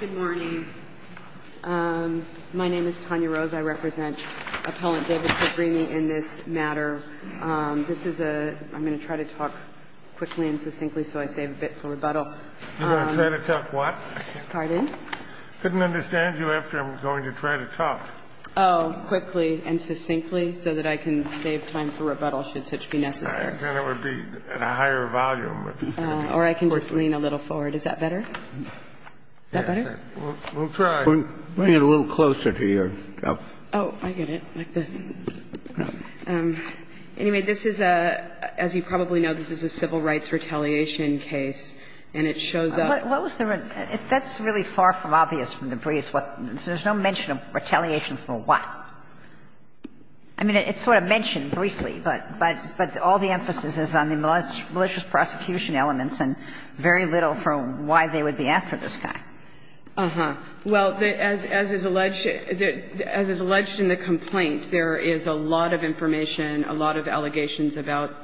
Good morning. My name is Tanya Rose. I represent Appellant David Fabbrini in this matter. This is a, I'm going to try to talk quickly and succinctly so I save a bit for rebuttal. You're going to try to talk what? Pardon? Couldn't understand you after I'm going to try to talk. Oh, quickly and succinctly so that I can save time for rebuttal should such be necessary. Then it would be at a higher volume. Or I can just lean a little forward. Is that better? Is that better? We'll try. Bring it a little closer to you. Oh, I get it, like this. Anyway, this is a, as you probably know, this is a civil rights retaliation case, and it shows up. What was the, that's really far from obvious from the previous one. There's no mention of retaliation for what? I mean, it's sort of mentioned briefly, but all the emphasis is on the malicious prosecution elements and very little from why they would be after this guy. Uh-huh. Well, as is alleged, as is alleged in the complaint, there is a lot of information, a lot of allegations about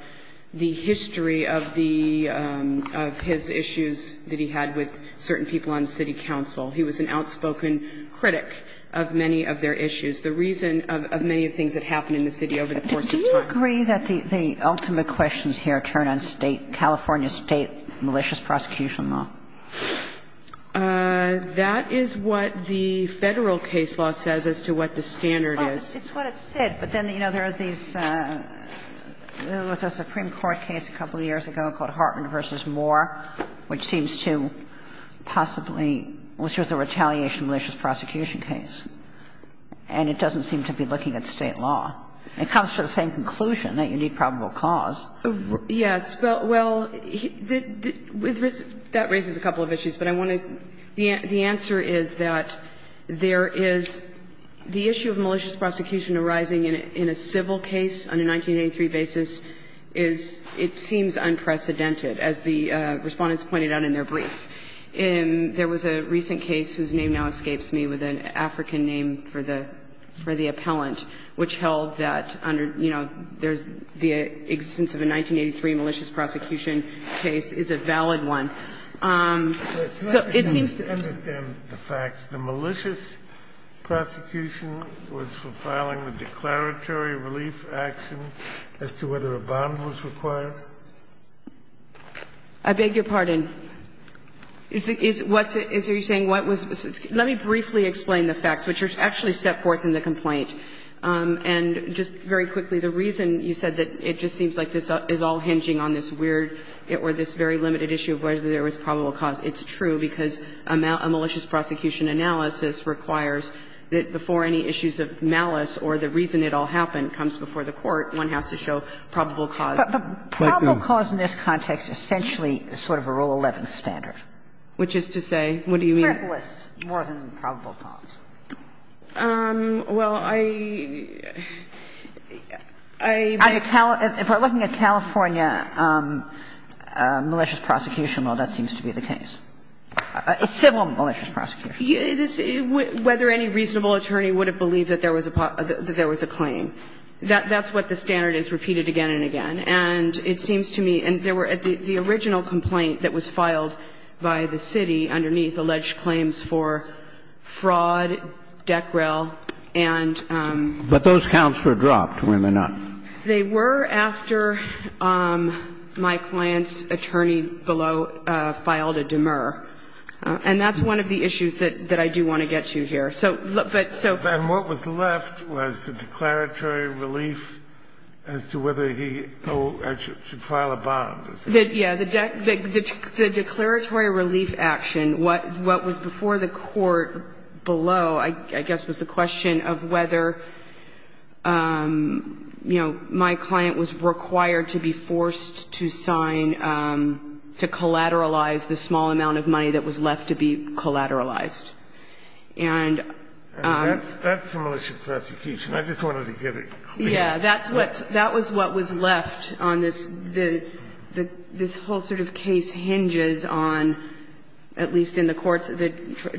the history of the, of his issues that he had with certain people on city council. He was an outspoken critic of many of their issues, the reason of many of the things that happened in the city over the course of time. Do you agree that the ultimate questions here turn on State, California State malicious prosecution law? That is what the Federal case law says as to what the standard is. Well, it's what it said, but then, you know, there are these, there was a Supreme Court case a couple of years ago called Hartman v. Moore, which seems to possibly which was a retaliation malicious prosecution case, and it doesn't seem to be looking at State law. It comes to the same conclusion that you need probable cause. Yes. Well, that raises a couple of issues, but I want to the answer is that there is the issue of malicious prosecution arising in a civil case on a 1983 basis is, it seems unprecedented, as the Respondents pointed out in their brief. There was a recent case whose name now escapes me with an African name for the, for the first time in a long time, and it was a case that was held under, you know, there's the existence of a 1983 malicious prosecution case is a valid one. So it seems to be. Do you understand the facts, the malicious prosecution was for filing a declaratory relief action as to whether a bond was required? I beg your pardon. Is, is, what's it, is, are you saying what was, let me briefly explain the facts, which are actually set forth in the complaint. And just very quickly, the reason you said that it just seems like this is all hinging on this weird or this very limited issue of whether there was probable cause, it's true, because a malicious prosecution analysis requires that before any issues of malice or the reason it all happened comes before the Court, one has to show probable cause. But, but, but probable cause in this context essentially is sort of a Rule 11 standard. Which is to say, what do you mean? More than probable cause. Well, I, I, but. If we're looking at California malicious prosecution, well, that seems to be the case. Civil malicious prosecution. Whether any reasonable attorney would have believed that there was a, that there was a claim. That, that's what the standard is repeated again and again. And it seems to me, and there were, the original complaint that was filed by the city underneath alleged claims for fraud, decrel, and. But those counts were dropped when they're not. They were after my client's attorney below filed a demur. And that's one of the issues that, that I do want to get to here. So, but, so. And what was left was the declaratory relief as to whether he should file a bond. Yeah, the declaratory relief action. What, what was before the Court below, I guess, was a question of whether, you know, my client was required to be forced to sign, to collateralize the small amount of money that was left to be collateralized. And. That's, that's a malicious prosecution. I just wanted to get it clear. Yeah. That's what's, that was what was left on this, the, the, this whole sort of case hinges on, at least in the courts, the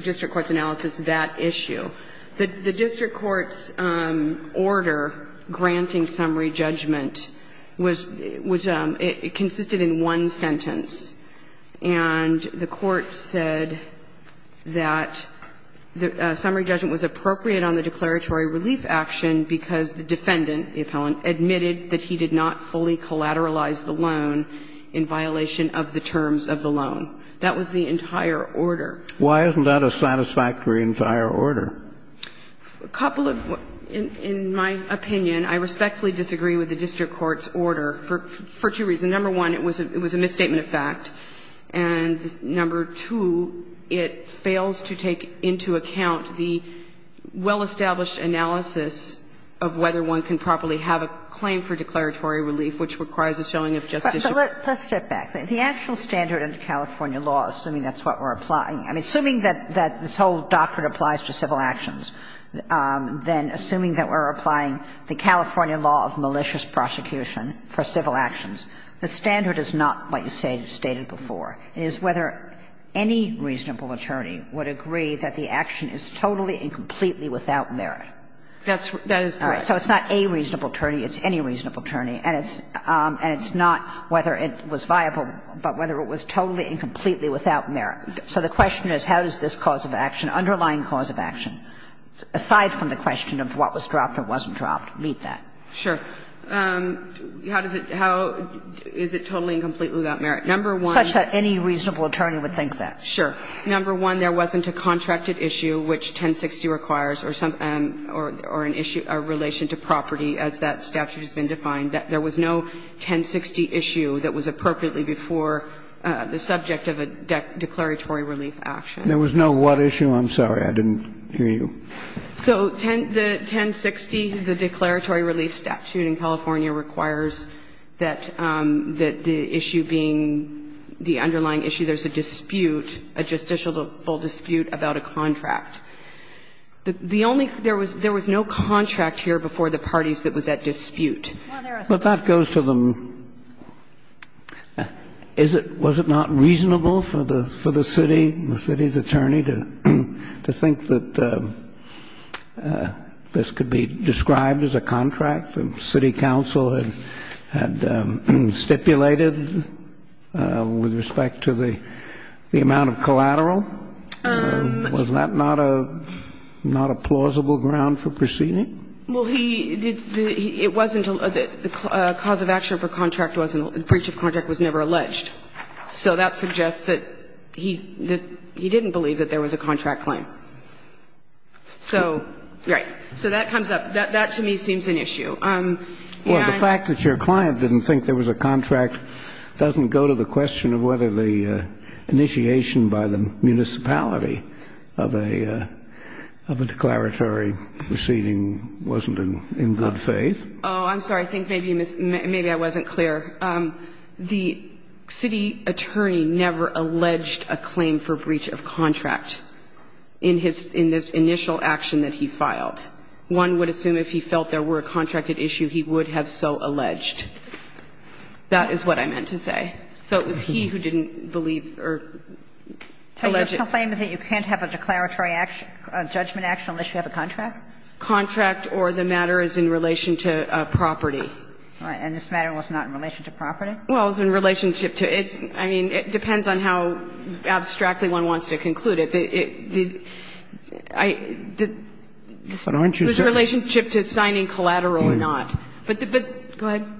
district court's analysis, that issue. The, the district court's order granting summary judgment was, was, it consisted in one sentence. And the Court said that the summary judgment was appropriate on the declaratory relief action because the defendant, the appellant, admitted that he did not fully collateralize the loan in violation of the terms of the loan. That was the entire order. Why isn't that a satisfactory entire order? A couple of, in, in my opinion, I respectfully disagree with the district court's order for, for two reasons. Number one, it was a, it was a misstatement of fact. And number two, it fails to take into account the well-established analysis of whether one can properly have a claim for declaratory relief, which requires a showing of justice. But let's step back. The actual standard under California law, assuming that's what we're applying, I mean, assuming that, that this whole doctrine applies to civil actions, then assuming that we're applying the California law of malicious prosecution for civil actions, the standard is not what you stated, stated before. It is whether any reasonable attorney would agree that the action is totally and completely without merit. That's, that is correct. So it's not a reasonable attorney, it's any reasonable attorney. And it's, and it's not whether it was viable, but whether it was totally and completely without merit. So the question is, how does this cause of action, underlying cause of action, aside from the question of what was dropped or wasn't dropped, meet that? Sure. How does it, how is it totally and completely without merit? Number one. Such that any reasonable attorney would think that. Sure. Number one, there wasn't a contracted issue, which 1060 requires, or some, or an issue in relation to property, as that statute has been defined. There was no 1060 issue that was appropriately before the subject of a declaratory relief action. There was no what issue? I'm sorry, I didn't hear you. So 1060, the declaratory relief statute in California requires that the issue being the underlying issue, there's a dispute, a justiciable dispute about a contract. The only, there was no contract here before the parties that was at dispute. But that goes to the, is it, was it not reasonable for the city, the city's attorney to, to think that this could be described as a contract, the city council had, had stipulated with respect to the, the amount of collateral? Was that not a, not a plausible ground for proceeding? Well, he, it wasn't, the cause of action for contract wasn't, breach of contract was never alleged. So that suggests that he, that he didn't believe that there was a contract claim. So, right. So that comes up. That, that to me seems an issue. And I. Well, the fact that your client didn't think there was a contract doesn't go to the question of whether the initiation by the municipality of a, of a declaratory proceeding wasn't in good faith. Oh, I'm sorry. I think maybe, maybe I wasn't clear. The city attorney never alleged a claim for breach of contract in his, in the initial action that he filed. One would assume if he felt there were a contracted issue, he would have so alleged. That is what I meant to say. So it was he who didn't believe or alleged. So your claim is that you can't have a declaratory action, a judgment action unless you have a contract? Contract or the matter is in relation to property. And this matter was not in relation to property? Well, it was in relationship to its, I mean, it depends on how abstractly one wants to conclude it. The, the, I, the, it was in relationship to signing collateral or not. But the, but, go ahead.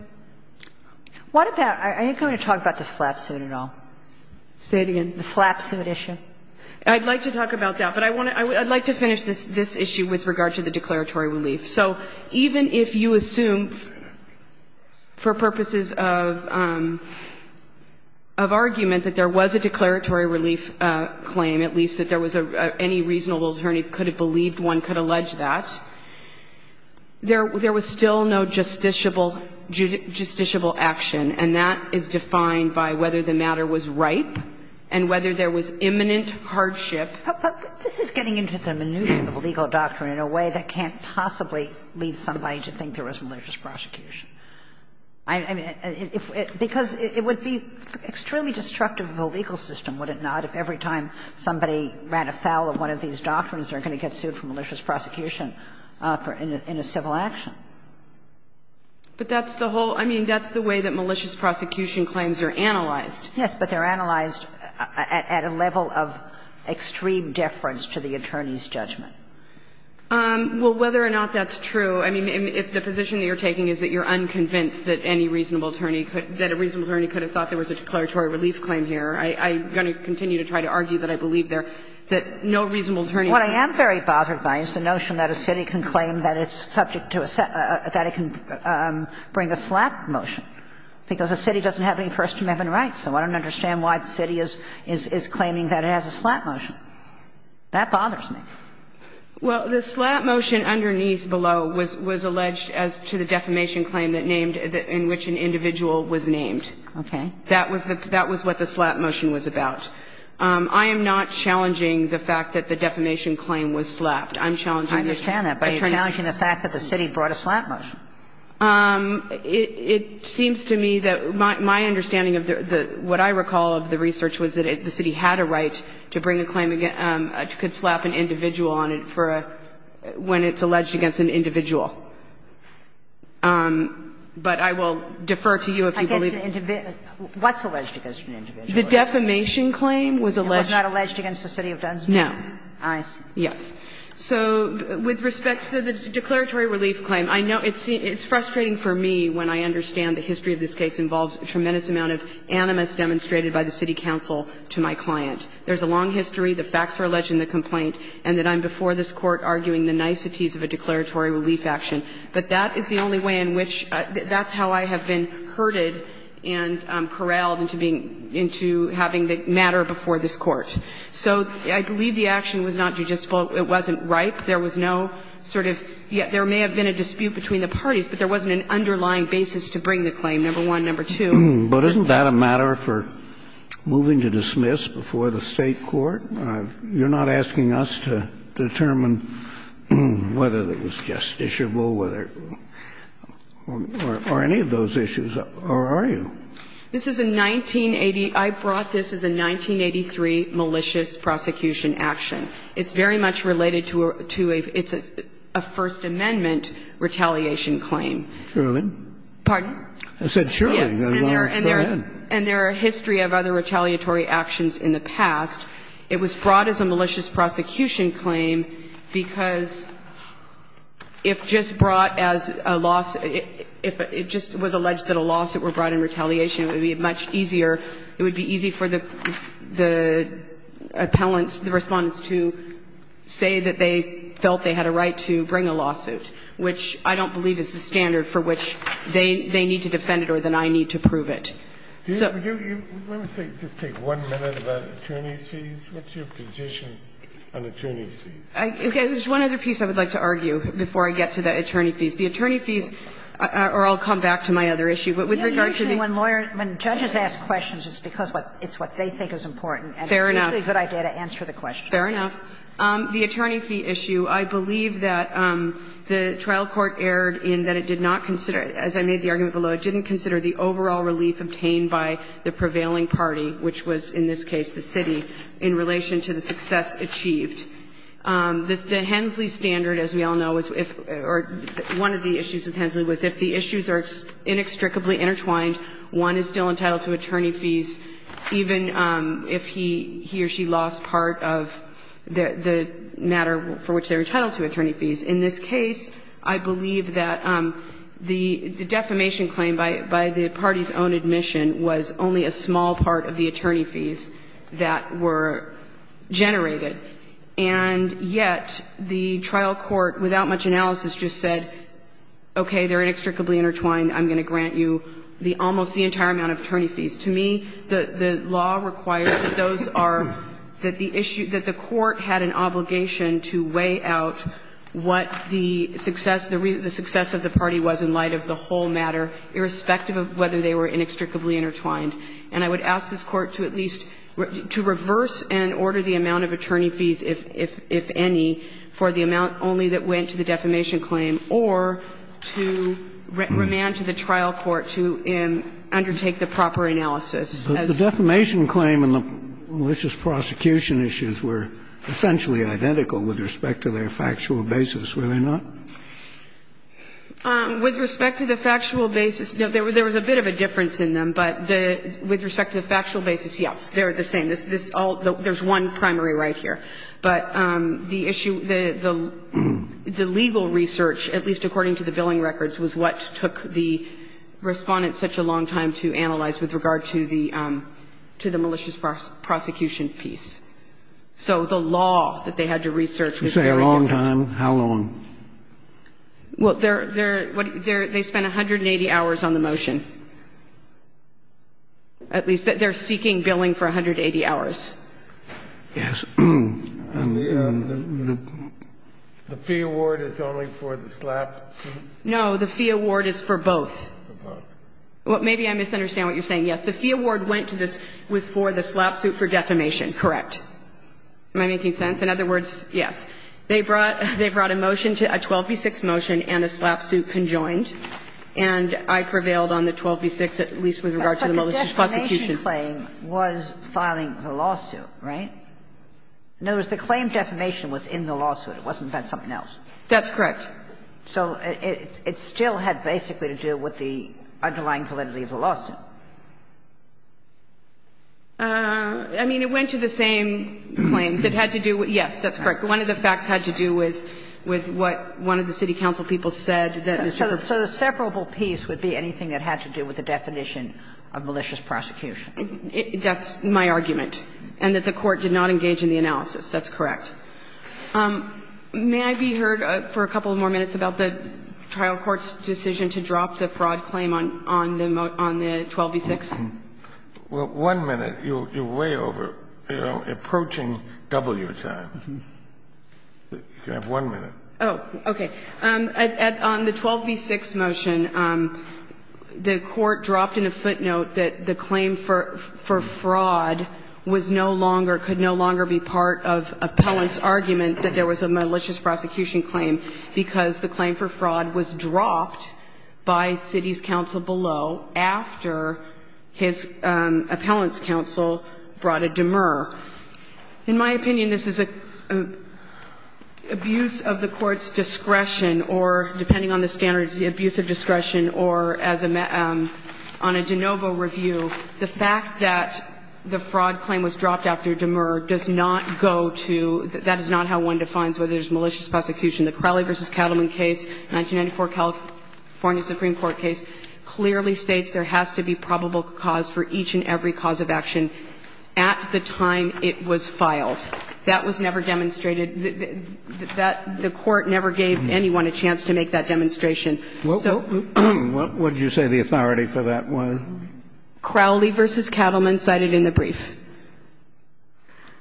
What about, I think I'm going to talk about the slap suit at all. Say it again. The slap suit issue. I'd like to talk about that. But I want to, I'd like to finish this, this issue with regard to the declaratory relief. So even if you assume for purposes of, of argument that there was a declaratory relief claim, at least that there was a, any reasonable attorney could have believed one could allege that, there, there was still no justiciable, justiciable action, and that is defined by whether the matter was ripe and whether there was imminent hardship. But this is getting into the minutia of legal doctrine in a way that can't possibly lead somebody to think there was malicious prosecution. I, I mean, if, because it would be extremely destructive of a legal system, would it not, if every time somebody ran afoul of one of these doctrines, they're going to get sued for malicious prosecution in a, in a civil action? But that's the whole, I mean, that's the way that malicious prosecution claims are analyzed. Yes, but they're analyzed at, at a level of extreme deference to the attorney's judgment. Well, whether or not that's true, I mean, if the position that you're taking is that you're unconvinced that any reasonable attorney could, that a reasonable attorney could have thought there was a declaratory relief claim here, I, I'm going to continue to try to argue that I believe there, that no reasonable attorney could have thought that. What I am very bothered by is the notion that a city can claim that it's subject to a, that it can bring a slap motion, because a city doesn't have any First Amendment rights. So I don't understand why the city is, is, is claiming that it has a slap motion. That bothers me. Well, the slap motion underneath below was, was alleged as to the defamation claim that named, in which an individual was named. Okay. That was the, that was what the slap motion was about. I am not challenging the fact that the defamation claim was slapped. I'm challenging the fact that the city was named. The city brought a slap motion. It, it seems to me that my, my understanding of the, the, what I recall of the research was that the city had a right to bring a claim against, could slap an individual on it for a, when it's alleged against an individual. But I will defer to you if you believe. I guess an individual, what's alleged against an individual? The defamation claim was alleged. It was not alleged against the city of Dunsmond? No. I see. Yes. So with respect to the declaratory relief claim, I know it's, it's frustrating for me when I understand the history of this case involves a tremendous amount of animus demonstrated by the city council to my client. There's a long history, the facts are alleged in the complaint, and that I'm before this Court arguing the niceties of a declaratory relief action. But that is the only way in which, that's how I have been herded and corralled into being, into having the matter before this Court. So I believe the action was not judiciable. It wasn't ripe. There was no sort of, there may have been a dispute between the parties, but there wasn't an underlying basis to bring the claim, number one. Number two, there's not a matter for moving to dismiss before the State court. You're not asking us to determine whether it was justiciable, whether, or any of those issues, or are you? This is a 1980, I brought this as a 1983 malicious prosecution action. It's very much related to a, it's a First Amendment retaliation claim. Sotomayor. Pardon? I said Sherlyn. Yes. And there are a history of other retaliatory actions in the past. It was brought as a malicious prosecution claim because if just brought as a loss, if it just was alleged that a loss that were brought in retaliation, it would be much easier, it would be easy for the appellants, the Respondents, to say that they felt they had a right to bring a lawsuit, which I don't believe is the standard for which they need to defend it or that I need to prove it. So do you, let me say, just take one minute about attorney's fees, what's your position on attorney's fees? Okay. There's one other piece I would like to argue before I get to the attorney fees. The attorney fees, or I'll come back to my other issue, but with regard to the When lawyers, when judges ask questions, it's because it's what they think is important. Fair enough. And it's usually a good idea to answer the question. Fair enough. The attorney fee issue, I believe that the trial court erred in that it did not consider it, as I made the argument below, it didn't consider the overall relief obtained by the prevailing party, which was in this case the city, in relation to the success achieved. The Hensley standard, as we all know, or one of the issues with Hensley, was if the one is still entitled to attorney fees, even if he, he or she lost part of the matter for which they're entitled to attorney fees. In this case, I believe that the defamation claim by the party's own admission was only a small part of the attorney fees that were generated. And yet the trial court, without much analysis, just said, okay, they're inextricably intertwined. I'm going to grant you the almost the entire amount of attorney fees. To me, the law requires that those are, that the issue, that the court had an obligation to weigh out what the success, the success of the party was in light of the whole matter, irrespective of whether they were inextricably intertwined. And I would ask this Court to at least, to reverse and order the amount of attorney fees, if any, for the amount only that went to the defamation claim, or to remand it to the trial court to undertake the proper analysis. As the defamation claim and the malicious prosecution issues were essentially identical with respect to their factual basis, were they not? With respect to the factual basis, no, there was a bit of a difference in them. But the, with respect to the factual basis, yes, they're the same. This, this all, there's one primary right here. But the issue, the, the legal research, at least according to the billing records, was what took the Respondent such a long time to analyze with regard to the, to the malicious prosecution piece. So the law that they had to research was very different. You say a long time. How long? Well, they're, they're, they're, they spent 180 hours on the motion. At least, they're seeking billing for 180 hours. Yes. And the, the fee award is only for the slap? No, the fee award is for both. For both. Well, maybe I misunderstand what you're saying. Yes, the fee award went to this, was for the slap suit for defamation, correct. Am I making sense? In other words, yes. They brought, they brought a motion to, a 12b-6 motion and a slap suit conjoined, and I prevailed on the 12b-6, at least with regard to the malicious prosecution. But the defamation claim was filing the lawsuit, right? In other words, the claim defamation was in the lawsuit. It wasn't about something else. That's correct. So it, it, it still had basically to do with the underlying validity of the lawsuit. I mean, it went to the same claims. It had to do with, yes, that's correct. One of the facts had to do with, with what one of the city council people said that the people. So the separable piece would be anything that had to do with the definition of malicious prosecution. That's my argument, and that the Court did not engage in the analysis. That's correct. May I be heard for a couple more minutes about the trial court's decision to drop the fraud claim on, on the 12b-6? Well, one minute. You're way over, you know, approaching W time. You have one minute. Oh, okay. On the 12b-6 motion, the Court dropped in a footnote that the claim for, for fraud was no longer, could no longer be part of appellant's argument that there was a malicious prosecution claim because the claim for fraud was dropped by city's council below after his appellant's counsel brought a demur. In my opinion, this is abuse of the Court's discretion or, depending on the standards, the abuse of discretion, or as a, on a de novo review, the fact that the fraud claim was dropped after demur does not go to, that is not how one defines whether there's malicious prosecution. The Crowley v. Cattleman case, 1994 California Supreme Court case, clearly states there has to be probable cause for each and every cause of action at the time it was filed. That was never demonstrated. That, the Court never gave anyone a chance to make that demonstration. So. What would you say the authority for that was? Crowley v. Cattleman cited in the brief.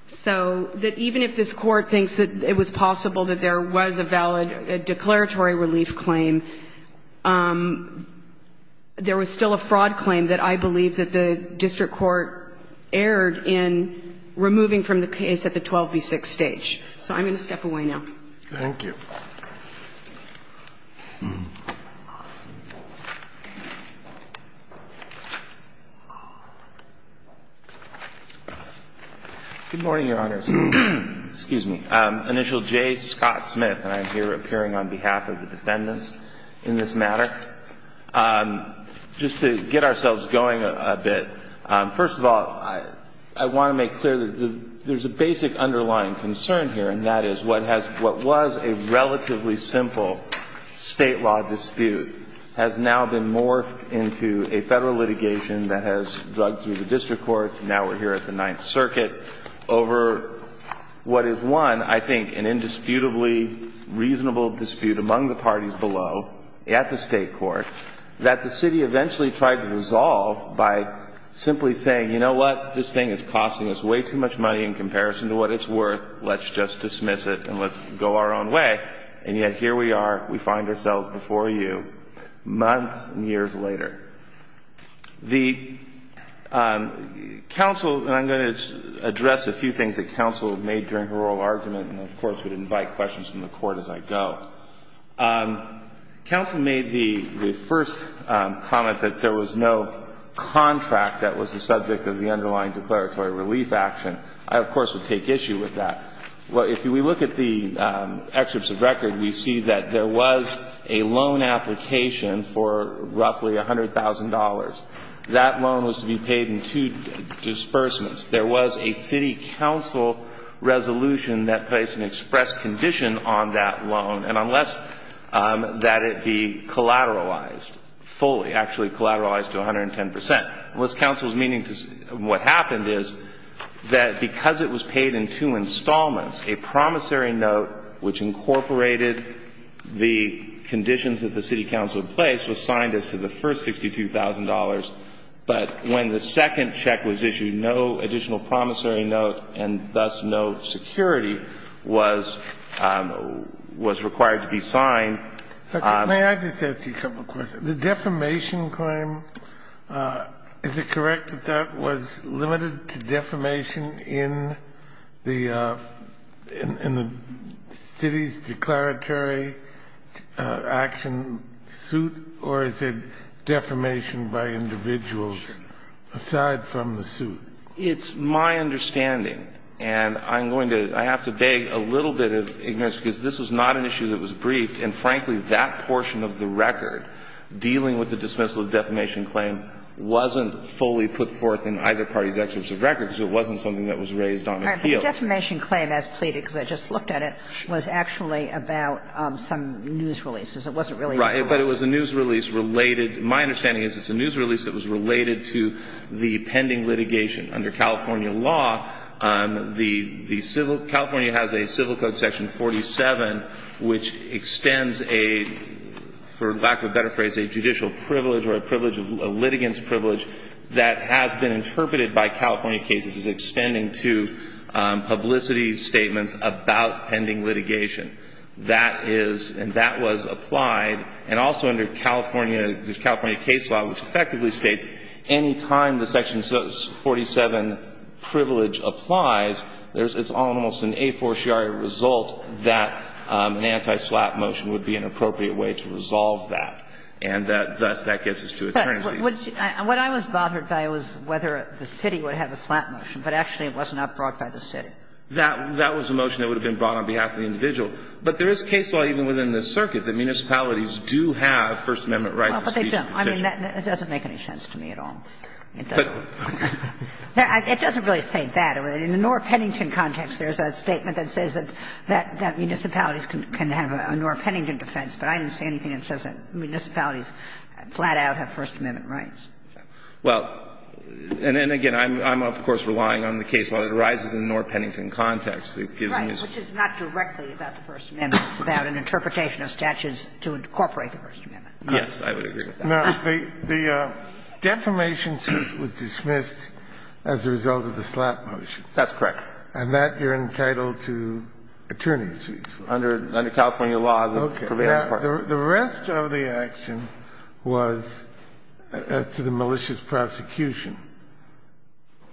So that even if this Court thinks that it was possible that there was a valid declaratory relief claim, there was still a fraud claim that I believe that the district court erred in removing from the case at the 12 v. 6 stage. So I'm going to step away now. Thank you. Good morning, Your Honors. Excuse me. Initial J. Scott Smith, and I'm here appearing on behalf of the defendants in this matter. Just to get ourselves going a bit, first of all, I want to make clear that there's a basic underlying concern here, and that is what has, what was a relevant and relatively simple State law dispute, has now been morphed into a Federal litigation that has drugged through the district court, now we're here at the Ninth Circuit, over what is one, I think, an indisputably reasonable dispute among the parties below at the State court that the City eventually tried to resolve by simply saying, you know what, this thing is costing us way too much money in comparison to what it's worth, let's just dismiss it and let's go our own way, and yet here we are, we find ourselves before you months and years later. The counsel, and I'm going to address a few things that counsel made during her oral argument, and of course would invite questions from the Court as I go. Counsel made the first comment that there was no contract that was the subject of the underlying declaratory relief action. I, of course, would take issue with that. If we look at the excerpts of record, we see that there was a loan application for roughly $100,000. That loan was to be paid in two disbursements. There was a City counsel resolution that placed an express condition on that loan, and unless that it be collateralized fully, actually collateralized to 110 percent, and what's counsel's meaning to what happened is that because it was paid in two installments, a promissory note which incorporated the conditions that the City counsel had placed was signed as to the first $62,000. But when the second check was issued, no additional promissory note and thus no security was required to be signed. May I just ask you a couple of questions? The defamation claim, is it correct that that was limited to defamation in the City's declaratory action suit, or is it defamation by individuals aside from the suit? It's my understanding, and I'm going to – I have to beg a little bit of ignorance because this was not an issue that was briefed, and frankly, that portion of the record dealing with the dismissal of defamation claim wasn't fully put forth in either party's excerpts of record because it wasn't something that was raised on appeal. All right. But the defamation claim as pleaded, because I just looked at it, was actually about some news releases. It wasn't really about us. Right. But it was a news release related – my understanding is it's a news release that was related to the pending litigation under California law. The civil – California has a Civil Code section 47 which extends a, for lack of a better phrase, a judicial privilege or a privilege, a litigant's privilege that has been extended to publicity statements about pending litigation. That is – and that was applied, and also under California – the California case law, which effectively states any time the section 47 privilege applies, there's – it's almost an a fortiori result that an anti-SLAPP motion would be an appropriate way to resolve that, and thus that gets us to attorneys' lease. But what I was bothered by was whether the City would have a SLAPP motion, but actually it was not brought by the City. That – that was a motion that would have been brought on behalf of the individual. But there is case law even within the circuit that municipalities do have First Amendment rights of speech and detention. Well, but they don't. I mean, that doesn't make any sense to me at all. It doesn't. It doesn't really say that. In the Nora Pennington context, there's a statement that says that municipalities can have a Nora Pennington defense, but I didn't see anything that says that municipalities flat out have First Amendment rights. Well, and then again, I'm of course relying on the case law that arises in the Nora Pennington context that gives me this. Right, which is not directly about the First Amendment. It's about an interpretation of statutes to incorporate the First Amendment. Yes, I would agree with that. Now, the defamation suit was dismissed as a result of the SLAPP motion. That's correct. And that you're entitled to attorneys' lease. Under California law, the prevailing part. The rest of the action was to the malicious prosecution.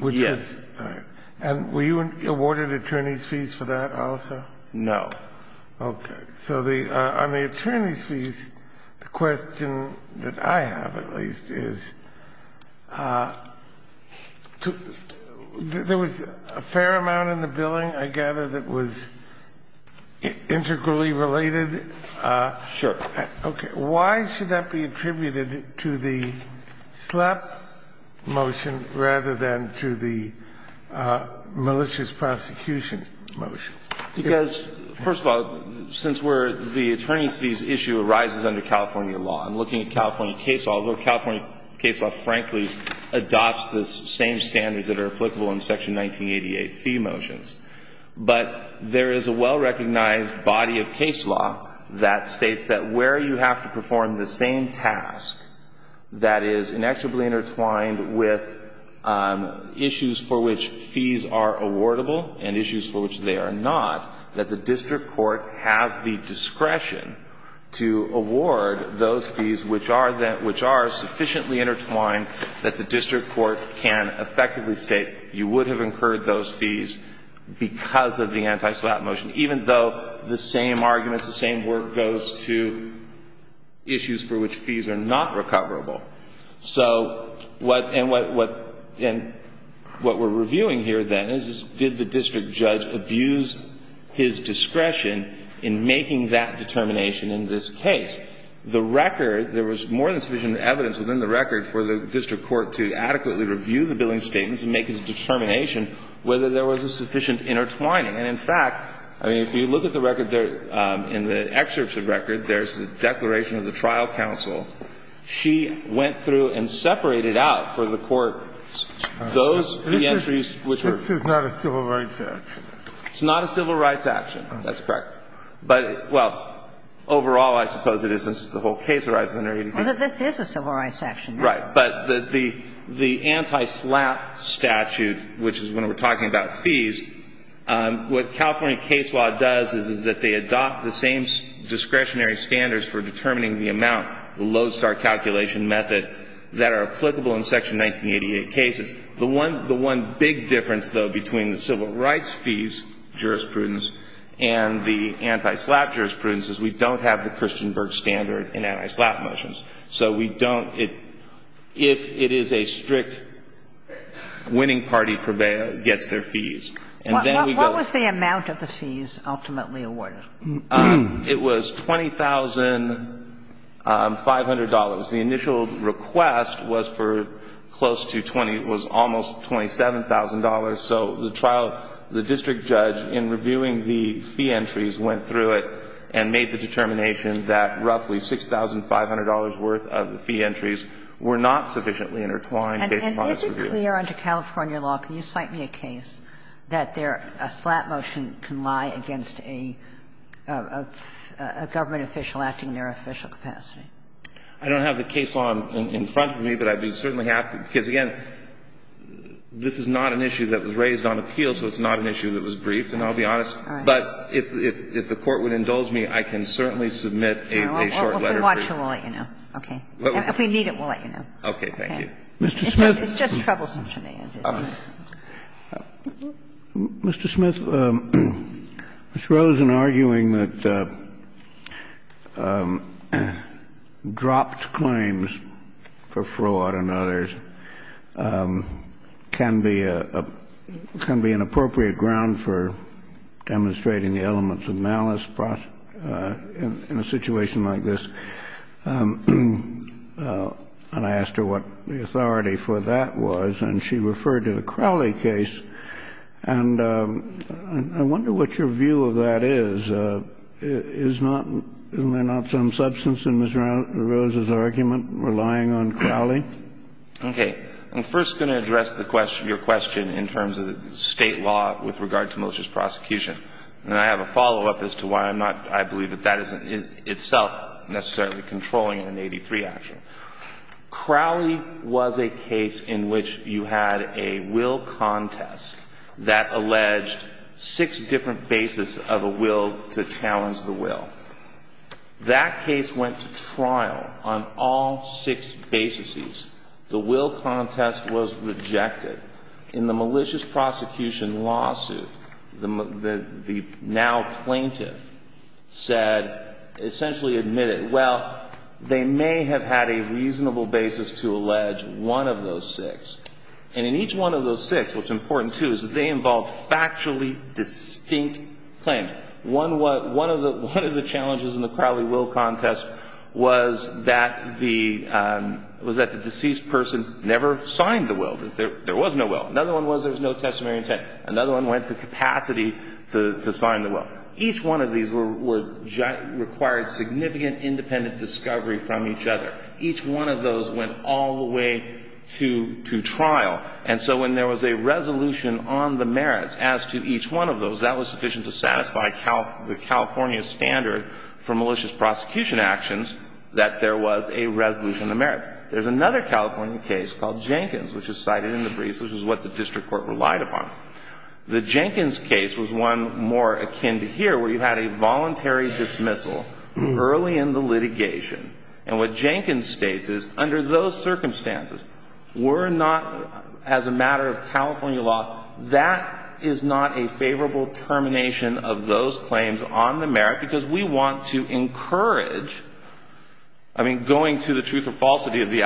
Yes. And were you awarded attorney's fees for that also? No. Okay. So on the attorney's fees, the question that I have at least is, there was a fair amount in the billing, I gather, that was integrally related? Sure. Okay. Why should that be attributed to the SLAPP motion rather than to the malicious prosecution motion? Because, first of all, since where the attorney's fees issue arises under California law, I'm looking at California case law, although California case law, frankly, adopts the same standards that are applicable in Section 1988 fee motions. But there is a well-recognized body of case law that states that where you have to perform the same task that is inextricably intertwined with issues for which fees are awardable and issues for which they are not, that the district court has the discretion to award those fees which are sufficiently intertwined that the district court can effectively state you would have incurred those fees because of the anti-SLAPP motion, even though the same arguments, the same work goes to issues for which fees are not recoverable. So what we're reviewing here, then, is did the district judge abuse his discretion in making that determination in this case? The record, there was more than sufficient evidence within the record for the district judge to adequately review the billing statements and make a determination whether there was a sufficient intertwining. And, in fact, I mean, if you look at the record there, in the excerpt of the record, there's a declaration of the trial counsel. She went through and separated out for the court those fee entries which were. This is not a civil rights action. It's not a civil rights action. That's correct. But, well, overall, I suppose it isn't. The whole case arises under 88. Well, this is a civil rights action. Right. But the anti-SLAPP statute, which is when we're talking about fees, what California case law does is that they adopt the same discretionary standards for determining the amount, the Lodestar calculation method, that are applicable in Section 1988 cases. The one big difference, though, between the civil rights fees jurisprudence and the anti-SLAPP jurisprudence is we don't have the Christenberg standard in anti-SLAPP motions. So we don't. If it is a strict winning party purveyor, it gets their fees. And then we go. What was the amount of the fees ultimately awarded? It was $20,500. The initial request was for close to $20,000. It was almost $27,000. So the trial, the district judge, in reviewing the fee entries, went through it and made the determination that roughly $6,500 worth of fee entries were not sufficiently intertwined based upon its review. And is it clear under California law, can you cite me a case, that a SLAPP motion can lie against a government official acting in their official capacity? I don't have the case law in front of me, but I'd be certainly happy. Because, again, this is not an issue that was raised on appeal, so it's not an issue that was briefed. And I'll be honest. But if the Court would indulge me, I can certainly submit a short letter brief. Well, if we want to, we'll let you know. Okay. If we need it, we'll let you know. Okay. Thank you. Mr. Smith. It's just troublesome to me. Mr. Smith, Ms. Rosen, arguing that dropped claims for fraud and others can be a – can be an appropriate ground for demonstrating the elements of malice in a situation like this, and I asked her what the authority for that was, and she referred to the Crowley case. And I wonder what your view of that is. Is not – is there not some substance in Ms. Rosen's argument relying on Crowley? Okay. I'm first going to address the question – your question in terms of the State law with regard to malicious prosecution. And I have a follow-up as to why I'm not – I believe that that isn't itself necessarily controlling an 83 action. Crowley was a case in which you had a will contest that alleged six different bases of a will to challenge the will. That case went to trial on all six bases. The will contest was rejected. In the malicious prosecution lawsuit, the now plaintiff said – essentially admitted, well, they may have had a reasonable basis to allege one of those six. And in each one of those six, what's important, too, is that they involved factually distinct claims. One of the challenges in the Crowley will contest was that the – was that the deceased person never signed the will. There was no will. Another one was there was no testimony of intent. Another one went to capacity to sign the will. Each one of these required significant independent discovery from each other. Each one of those went all the way to trial. And so when there was a resolution on the merits as to each one of those, that was sufficient to satisfy the California standard for malicious prosecution actions that there was a resolution on the merits. There's another California case called Jenkins, which is cited in the briefs, which is what the district court relied upon. The Jenkins case was one more akin to here, where you had a voluntary dismissal early in the litigation. And what Jenkins states is, under those circumstances, we're not – as a matter of California law, that is not a favorable termination of those claims on the merit because we want to encourage – I mean, going to the truth or falsity of the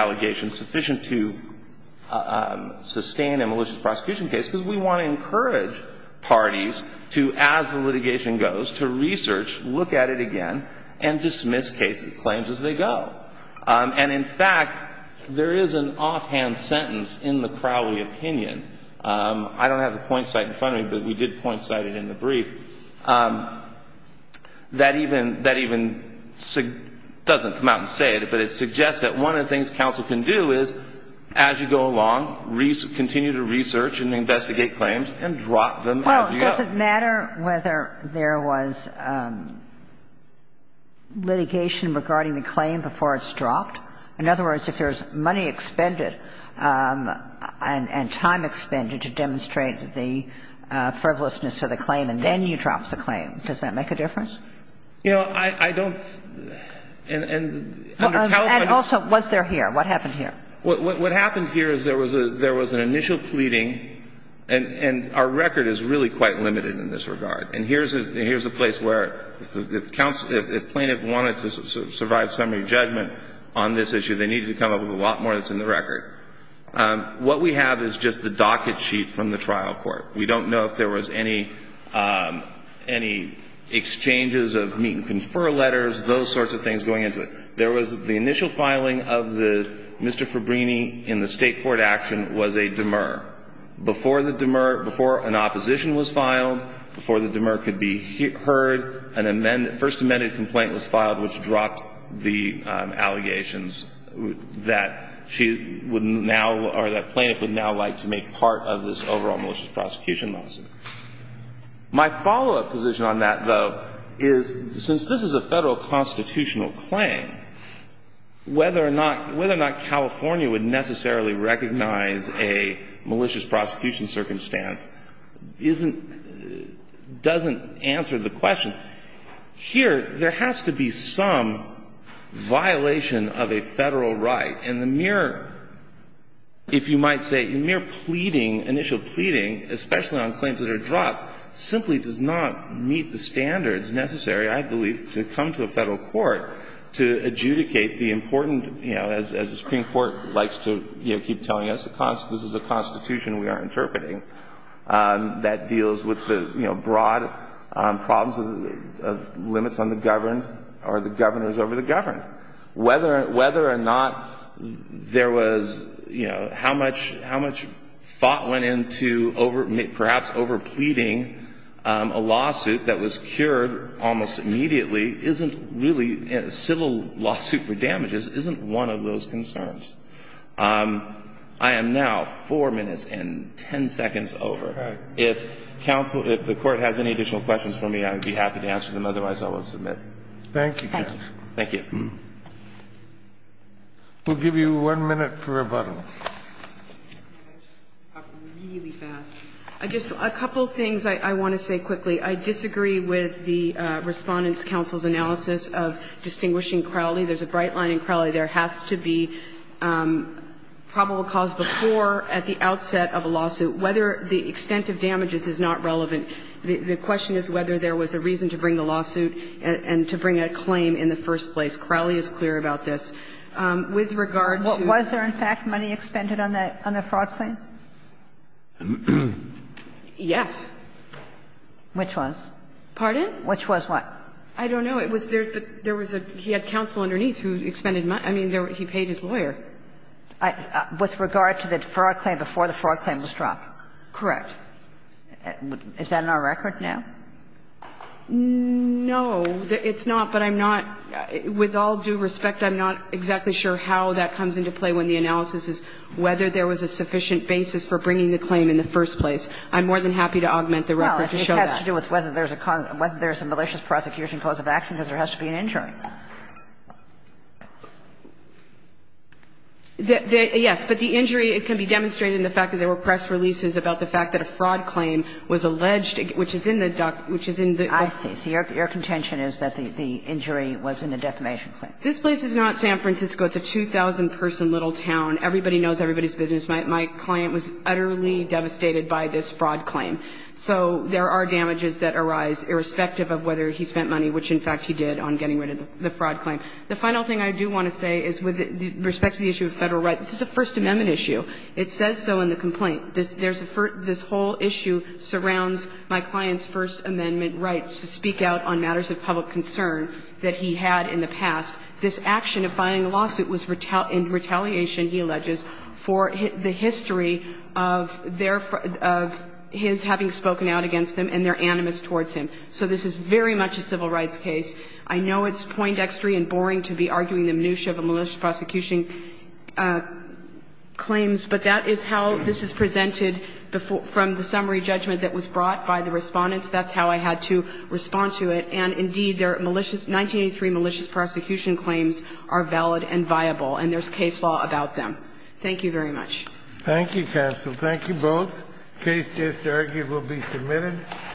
parties to, as the litigation goes, to research, look at it again, and dismiss claims as they go. And in fact, there is an offhand sentence in the Crowley opinion – I don't have the point cited in front of me, but we did point cite it in the brief – that even doesn't come out and say it, but it suggests that one of the things counsel can do is, as you go along, continue to research and investigate claims and drop them as you go. Well, does it matter whether there was litigation regarding the claim before it's dropped? In other words, if there's money expended and time expended to demonstrate the frivolousness of the claim and then you drop the claim, does that make a difference? You know, I don't – and under California law – And also, was there here? What happened here? What happened here is there was an initial pleading – and our record is really quite limited in this regard. And here's a place where if plaintiff wanted to survive summary judgment on this issue, they needed to come up with a lot more than is in the record. What we have is just the docket sheet from the trial court. We don't know if there was any exchanges of meet-and-confer letters, those sorts of things going into it. There was – the initial filing of the – Mr. Fabbrini in the State court action was a demur. Before the demur – before an opposition was filed, before the demur could be heard, an amend – first amended complaint was filed which dropped the allegations that she would now – or that plaintiff would now like to make part of this overall malicious prosecution lawsuit. My follow-up position on that, though, is since this is a Federal constitutional claim, whether or not – whether or not California would necessarily recognize a malicious prosecution circumstance isn't – doesn't answer the question. Here, there has to be some violation of a Federal right. And the mere – if you might say, the mere pleading, initial pleading, especially on claims that are dropped, simply does not meet the standards necessary, I believe, to come to a Federal court to adjudicate the important – you know, as the Supreme Court likes to, you know, keep telling us, this is a Constitution we are interpreting that deals with the, you know, broad problems of limits on the governed or the governors over the governed. Whether – whether or not there was, you know, how much – how much thought went into over – perhaps over pleading a lawsuit that was cured almost immediately isn't really – civil lawsuit for damages isn't one of those concerns. I am now 4 minutes and 10 seconds over. If counsel – if the Court has any additional questions for me, I would be happy to answer them. Otherwise, I will submit. Thank you, counsel. Thank you. We'll give you one minute for rebuttal. I just – a couple of things I want to say quickly. I disagree with the Respondent's counsel's analysis of distinguishing Crowley. There is a bright line in Crowley. There has to be probable cause before, at the outset of a lawsuit. Whether the extent of damages is not relevant. The question is whether there was a reason to bring the lawsuit and to bring a claim in the first place. Crowley is clear about this. With regard to – But was he expended on the fraud claim? Yes. Which was? Pardon? Which was what? I don't know. It was there – there was a – he had counsel underneath who expended money. I mean, he paid his lawyer. With regard to the fraud claim before the fraud claim was dropped? Correct. Is that on our record now? No. It's not, but I'm not – with all due respect, I'm not exactly sure how that comes into play when the analysis is whether there was a sufficient basis for bringing the claim in the first place. I'm more than happy to augment the record to show that. Well, I think it has to do with whether there's a – whether there's a malicious prosecution cause of action, because there has to be an injury. Yes. But the injury can be demonstrated in the fact that there were press releases about the fact that a fraud claim was alleged, which is in the – which is in the I see. So your contention is that the injury was in the defamation claim. This place is not San Francisco. It's a 2,000-person little town. Everybody knows everybody's business. My client was utterly devastated by this fraud claim. So there are damages that arise irrespective of whether he spent money, which, in fact, he did, on getting rid of the fraud claim. The final thing I do want to say is with respect to the issue of Federal rights, this is a First Amendment issue. It says so in the complaint. There's a – this whole issue surrounds my client's First Amendment rights to speak out on matters of public concern that he had in the past. This action of filing a lawsuit was in retaliation, he alleges, for the history of their – of his having spoken out against them and their animus towards him. So this is very much a civil rights case. I know it's poindextery and boring to be arguing the minutiae of a malicious prosecution claims, but that is how this is presented from the summary judgment that was brought by the Respondents. That's how I had to respond to it. And, indeed, their malicious – 1983 malicious prosecution claims are valid and viable, and there's case law about them. Thank you very much. Thank you, counsel. Thank you both. The case is, I argue, will be submitted.